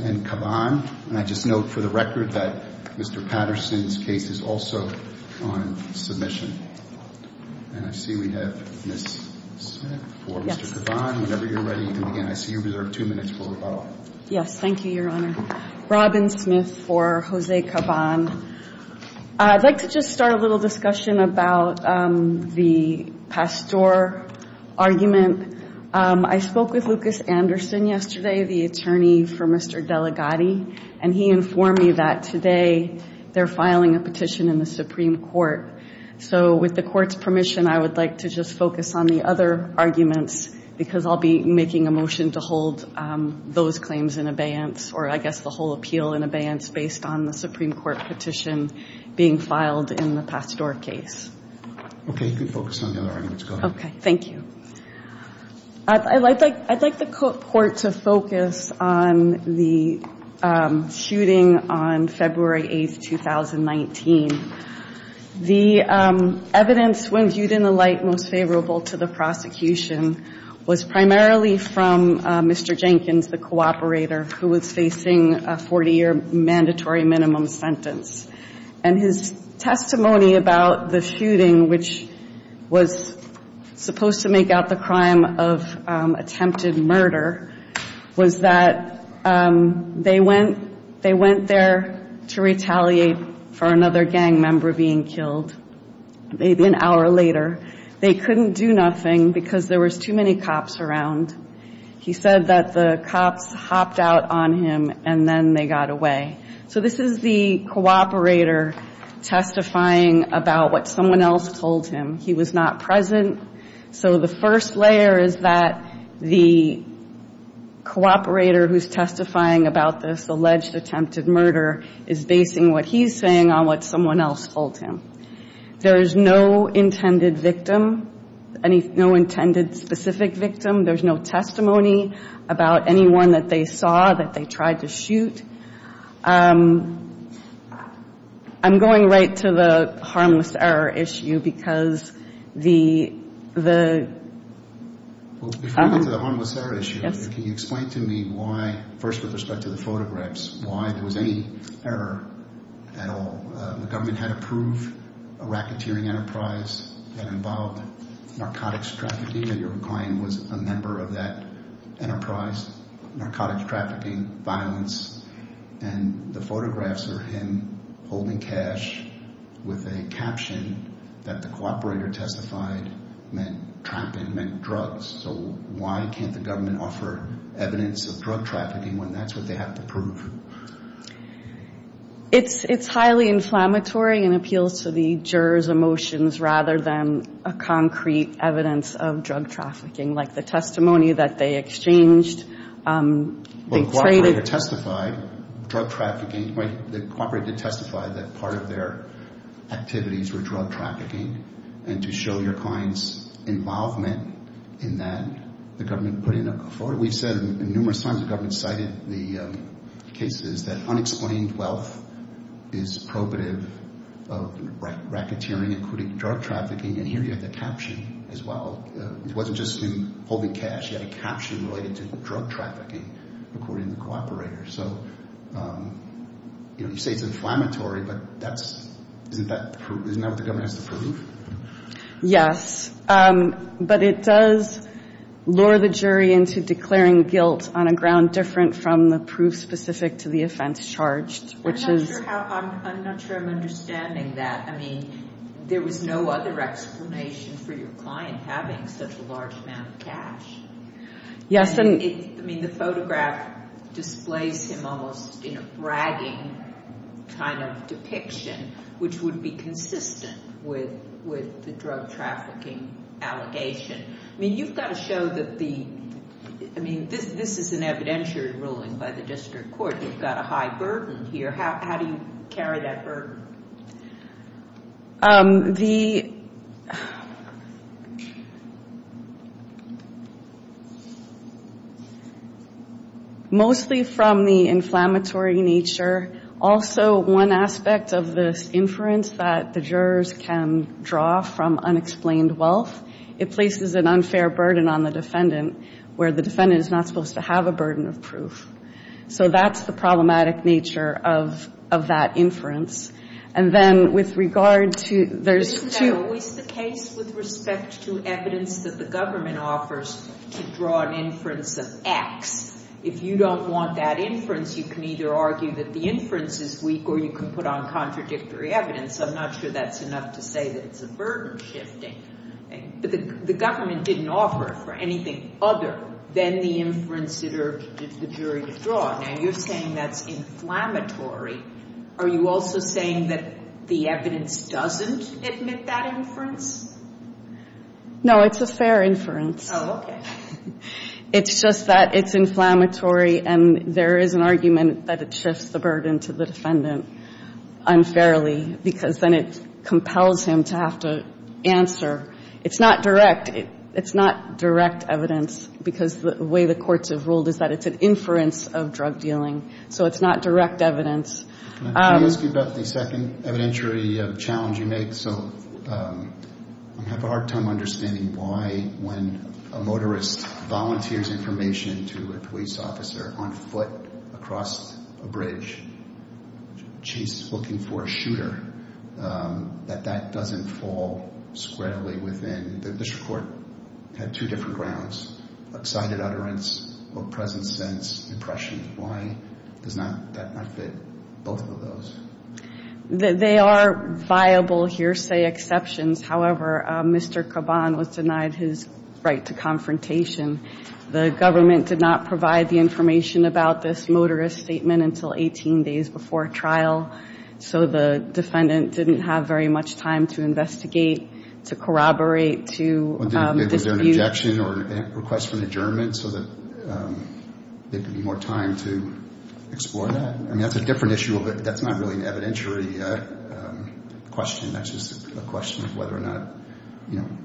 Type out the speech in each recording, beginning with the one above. and Caban, and I just note for the record that Mr. Patterson's case is also on submission. And I see we have Ms. Smith for Mr. Caban. Whenever you're ready, you can begin. I see you reserved two minutes for rebuttal. Yes, thank you, Your Honor. Robin Smith for Jose Caban. I'd like to just start a little discussion about the Pasteur argument. I spoke with Lucas Anderson yesterday, the attorney for Mr. Delegati, and he informed me that today they're filing a petition in the Supreme Court. So with the Court's permission, I would like to just focus on the other arguments because I'll be making a motion to hold those claims in abeyance, or I guess the whole appeal in abeyance based on the Supreme Court petition being filed in the Pasteur case. Okay. You can focus on the other arguments. Go ahead. Okay. Thank you. I'd like the Court to focus on the shooting on February 8, 2019. The evidence when viewed in the light most favorable to the prosecution was primarily from Mr. Jenkins, the cooperator who was facing a 40-year mandatory minimum sentence. And his testimony about the shooting, which was supposed to make out the crime of attempted murder, was that they went there to retaliate for another gang member being killed maybe an hour later. They couldn't do nothing because there was too many cops around. He said that the cops hopped out on him and then they got away. So this is the cooperator testifying about what someone else told him. He was not present. So the first layer is that the cooperator who's testifying about this alleged attempted murder is basing what he's saying on what intended victim, no intended specific victim. There's no testimony about anyone that they saw that they tried to shoot. I'm going right to the harmless error issue because the... Before we get to the harmless error issue, can you explain to me why, first with respect to the photographs, why there was any error at all? The government had approved a racketeering enterprise that involved narcotics trafficking and your client was a member of that enterprise, narcotics trafficking, violence, and the photographs are him holding cash with a caption that the cooperator testified meant trapping, meant drugs. So why can't the government offer evidence of drug trafficking when that's what they have to prove? It's highly inflammatory and appeals to the juror's emotions rather than a concrete evidence of drug trafficking like the testimony that they exchanged. The cooperator testified that part of their activities were drug trafficking and to show your client's involvement in that, the government put in a... We've said numerous times the government cited the cases that unexplained wealth is probative of racketeering including drug trafficking and here you have the caption as well. It wasn't just him holding cash. He had a caption related to drug trafficking according to the cooperator. So you say it's inflammatory but that's... Isn't that what the government has to prove? Yes, but it does lure the jury into declaring guilt on a ground different from the proof specific to the offense charged which is... I'm not sure I'm understanding that. I mean there was no other explanation for your client having such a large amount of cash. I mean the photograph displays him almost in a bragging kind of depiction which would be consistent with the drug trafficking allegation. I mean you've got to show that the... I mean this is an evidentiary ruling by the district court. You've got a burden here. How do you carry that burden? The... Mostly from the inflammatory nature. Also one aspect of this inference that the jurors can draw from unexplained wealth. It places an unfair burden on the defendant where the jurors can draw from. So there's a direct nature of that inference. And then with regard to... Isn't that always the case with respect to evidence that the government offers to draw an inference of X? If you don't want that inference, you can either argue that the inference is weak or you can put on contradictory evidence. I'm not sure that's enough to say that it's a burden shifting. But the government didn't offer for anything other than the inference it urged the jury to draw. Now you're saying that's inflammatory. Are you also saying that the evidence doesn't admit that inference? No, it's a fair inference. It's just that it's inflammatory and there is an argument that it shifts the burden to the defendant unfairly because then it compels him to have to answer. It's not direct. It's not direct evidence because the way the courts have ruled is that it's an inference of drug dealing. So it's not direct evidence. Can I ask you about the second evidentiary challenge you make? I have a hard time understanding why when a motorist volunteers information to a police officer on foot across a bridge, chase looking for a shooter, that that doesn't fall squarely within. The district court had two different grounds, excited utterance or present sense impression. Why does that not fit both of those? They are viable hearsay exceptions. However, Mr. Caban was denied his right to confrontation. The government did not provide the information about this motorist statement until 18 days before trial. So the defendant didn't have very much time to investigate, to corroborate, to dispute. Was there an objection or request for an adjournment so that there could be more time to explore that? I mean, that's a different issue. That's not really an evidentiary question. That's just a question of whether or not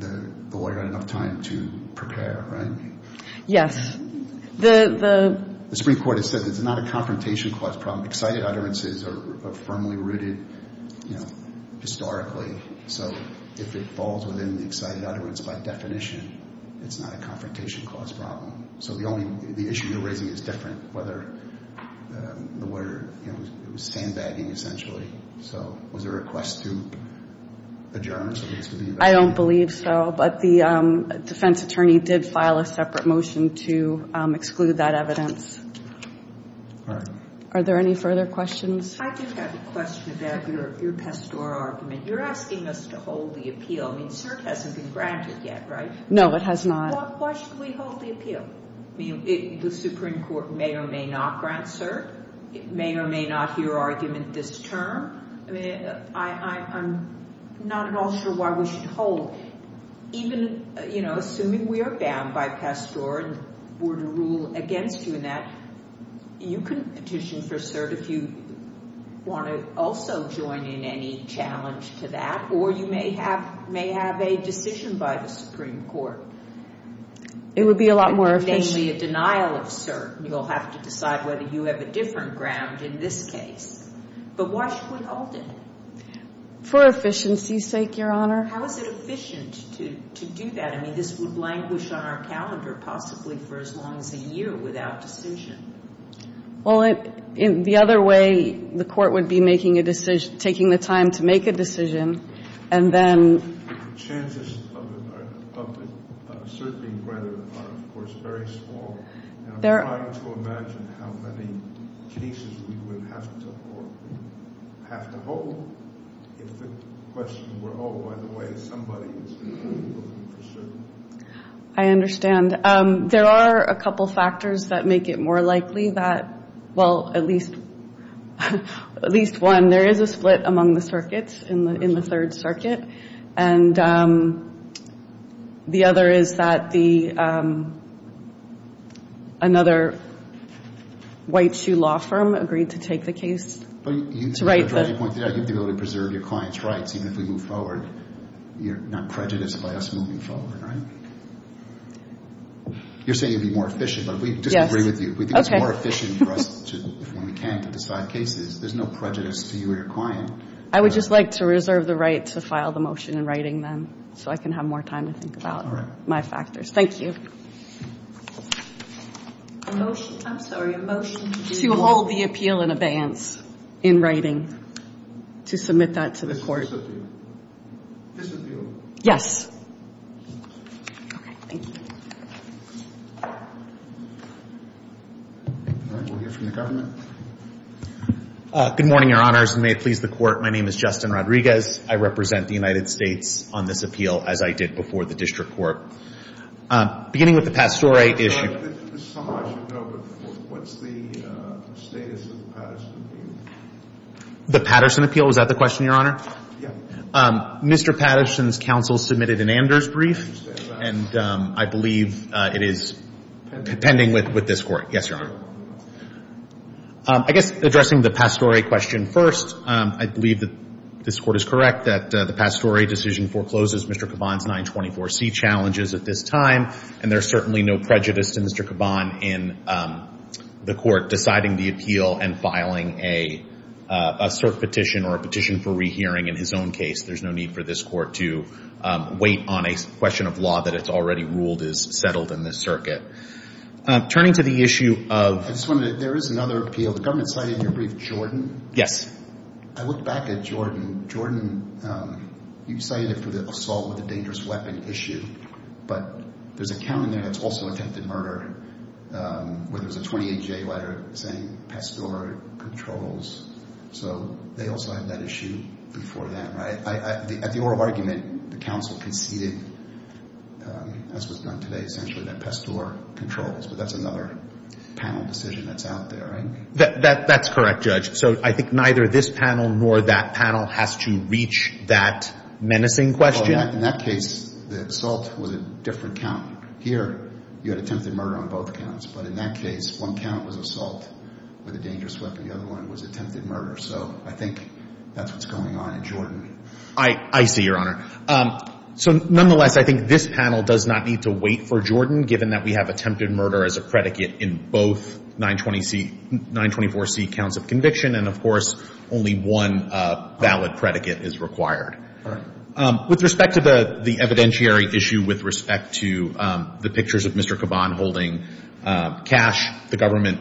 the lawyer had enough time to prepare, right? Yes. The Supreme Court has said it's not a confrontation cause problem. Excited utterances are firmly rooted, you know, historically. So if it falls within the excited utterance by definition, it's not a confrontation cause problem. So the issue you're raising is different, whether the lawyer was sandbagging essentially. So was there a request to adjourn? I don't believe so. But the defense attorney did file a separate motion to exclude that evidence. All right. Are there any further questions? I do have a question about your Pasteur argument. You're asking us to hold the appeal. I mean, cert hasn't been granted yet, right? No, it has not. Why should we hold the appeal? I mean, the Supreme Court may or may not grant cert. It may or may not hear argument this term. I mean, I'm not at all sure why we should hold. Even, you know, assuming we are bound by Pasteur and were to rule against you in that, you can petition for cert if you want to also join in any challenge to that. Or you may have may have a decision by the Supreme Court. It would be a lot more efficient. Namely, a denial of cert. You'll have to decide whether you have a different ground in this case. But why should we hold it? For efficiency's sake, Your Honor. How is it efficient to do that? I mean, this would languish on our calendar possibly for as long as a year without decision. Well, the other way the Court would be making a decision, taking the time to make a decision, and then The chances of a cert being granted are, of course, very small. I'm trying to imagine how many cases we would have to hold if the question were, Oh, by the way, somebody is in favor of a cert. I understand. There are a couple factors that make it more likely that, well, at least one, there is a split among the circuits in the Third Circuit. And the other is that the another white shoe law firm agreed to take the case. You'd be able to preserve your client's rights even if we move forward. You're not prejudiced by us moving forward, right? You're saying it would be more efficient, but we disagree with you. If we think it's more efficient for us, if we can, to decide cases, there's no prejudice to you or your client. I would just like to reserve the right to file the motion in writing, then, so I can have more time to think about my factors. Thank you. A motion. I'm sorry. A motion. To hold the appeal in abeyance in writing. To submit that to the Court. Disappeal. Disappeal? Yes. All right. We'll hear from the government. Good morning, Your Honors, and may it please the Court, my name is Justin Rodriguez. I represent the United States on this appeal, as I did before the District Court. Beginning with the Pastore issue. There's some I should know, but what's the status of the Patterson appeal? The Patterson appeal? Is that the question, Your Honor? Yeah. Mr. Patterson's counsel submitted an Anders brief, and I believe it is pending with this Court. Yes, Your Honor. I guess addressing the Pastore question first, I believe that this Court is correct that the Pastore decision forecloses Mr. Caban's 924C challenges at this time, and there's certainly no prejudice to Mr. Caban in the Court deciding the appeal and filing a cert petition or a petition for rehearing in his own case. There's no need for this Court to wait on a question of law that it's already ruled is settled in this circuit. Turning to the issue of... I just wanted to... There is another appeal. The government cited in your brief the assault with a dangerous weapon issue, but there's a count in there that's also attempted murder, where there's a 28-J letter saying Pastore controls. So they also have that issue before that, right? At the oral argument, the counsel conceded, as was done today, essentially, that Pastore controls, but that's another panel decision that's out there, right? That's correct, Judge. So I think neither this panel nor that panel has to reach that menacing question. In that case, the assault was a different count. Here, you had attempted murder on both counts, but in that case, one count was assault with a dangerous weapon. The other one was attempted murder. So I think that's what's going on in Jordan. I see, Your Honor. So nonetheless, I think this panel does not need to wait for Jordan, given that we have attempted murder as a predicate in both 924C counts of conviction, and of course, only one valid predicate is required. With respect to the evidentiary issue, with respect to the pictures of Mr. Kaban holding cash, the government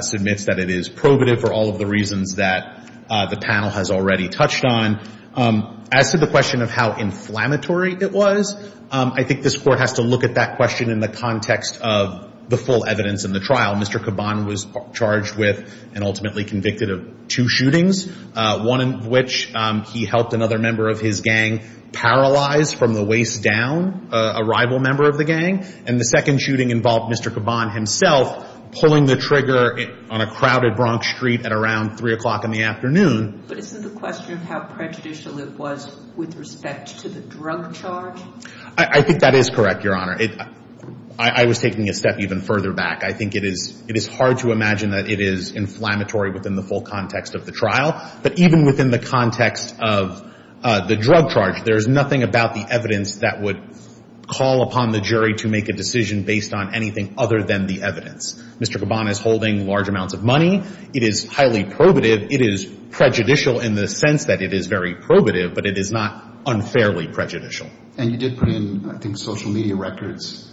submits that it is probative for all of the reasons that the panel has already touched on. As to the question of how inflammatory it was, I think this Court has to look at that question in the context of the full evidence in the trial. Mr. Kaban was charged with and ultimately convicted of two shootings, one of which he helped another member of his gang paralyze from the waist down a rival member of the gang, and the second shooting involved Mr. Kaban himself pulling the trigger on a crowded Bronx street at around 3 o'clock in the afternoon. But isn't the question of how prejudicial it was with respect to the drug charge? I think that is correct, Your Honor. I was taking a step even further back. I think it is hard to imagine that it is inflammatory within the full context of the trial, but even within the context of the drug charge, there is nothing about the evidence that would call upon the jury to make a decision based on anything other than the evidence. Mr. Kaban is holding large amounts of money. It is highly probative. It is prejudicial in the sense that it is very probative, but it is not unfairly prejudicial. And you did put in, I think, social media records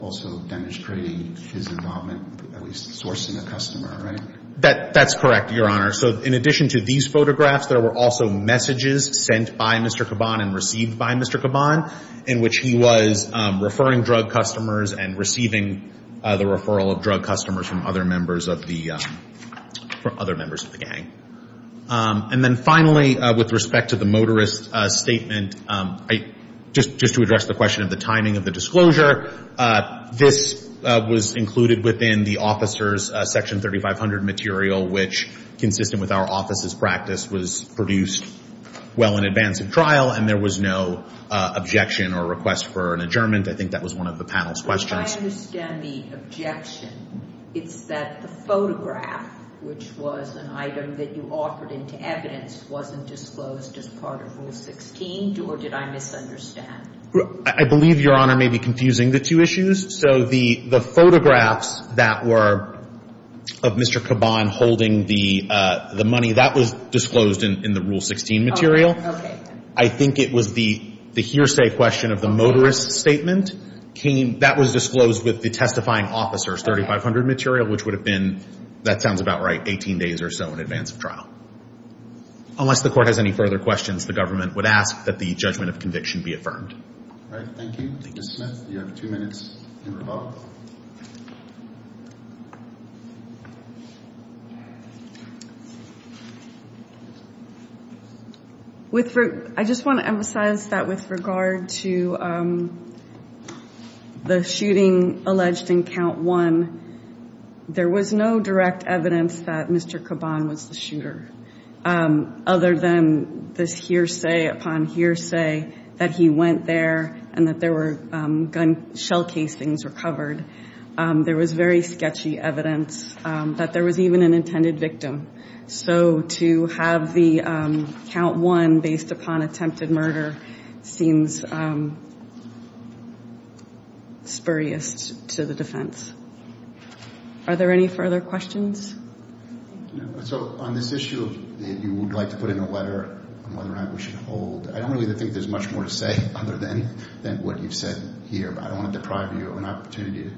also demonstrating his involvement at least sourcing a customer, right? That's correct, Your Honor. So in addition to these photographs, there were also messages sent by Mr. Kaban and received by Mr. Kaban in which he was referring drug customers and receiving the referral of drug customers from other members of the gang. And then finally, with respect to the motorist statement, just to address the question of the timing of the disclosure, this was included within the officer's Section 3500 material, which consistent with our office's practice was produced well in advance of trial, and there was no objection or request for an adjournment. I think that was one of the panel's questions. If I understand the objection, it's that the photograph, which was an item that you offered into evidence, wasn't disclosed as part of Rule 16, or did I misunderstand? I believe, Your Honor, may be confusing the two issues. So the photographs that were of Mr. Kaban holding the money, that was disclosed in the Rule 16 material. I think it was the hearsay question of the motorist statement that was disclosed with the testifying officer's 3500 material, which would have been, that sounds about right, 18 days or so in advance of trial, and that was confirmed. All right. Thank you. Ms. Smith, you have two minutes in rebuttal. I just want to emphasize that with regard to the shooting alleged in Count 1, there was no direct evidence that Mr. Kaban was the shooter, other than this hearsay upon hearsay that he went there and that there were gun shell casings were covered. There was very sketchy evidence that there was even an intended victim. So to have the Count 1 based upon attempted murder seems spurious to the defense. Are there any further questions? So on this issue, you would like to put in a letter on whether or not we should hold. I don't really think there's much more to say other than what you've said here. But I don't want to deprive you of an opportunity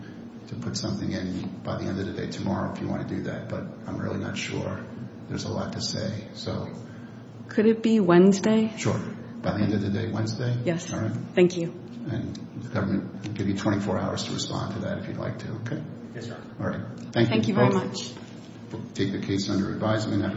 to put something in by the end of the day tomorrow if you want to do that. But I'm really not sure. There's a lot to say. Could it be Wednesday? Sure. By the end of the day Wednesday? Yes. Thank you. The government will give you 24 hours to respond to that if you'd like to. Thank you very much. We'll take the case under advisement. Have a good day.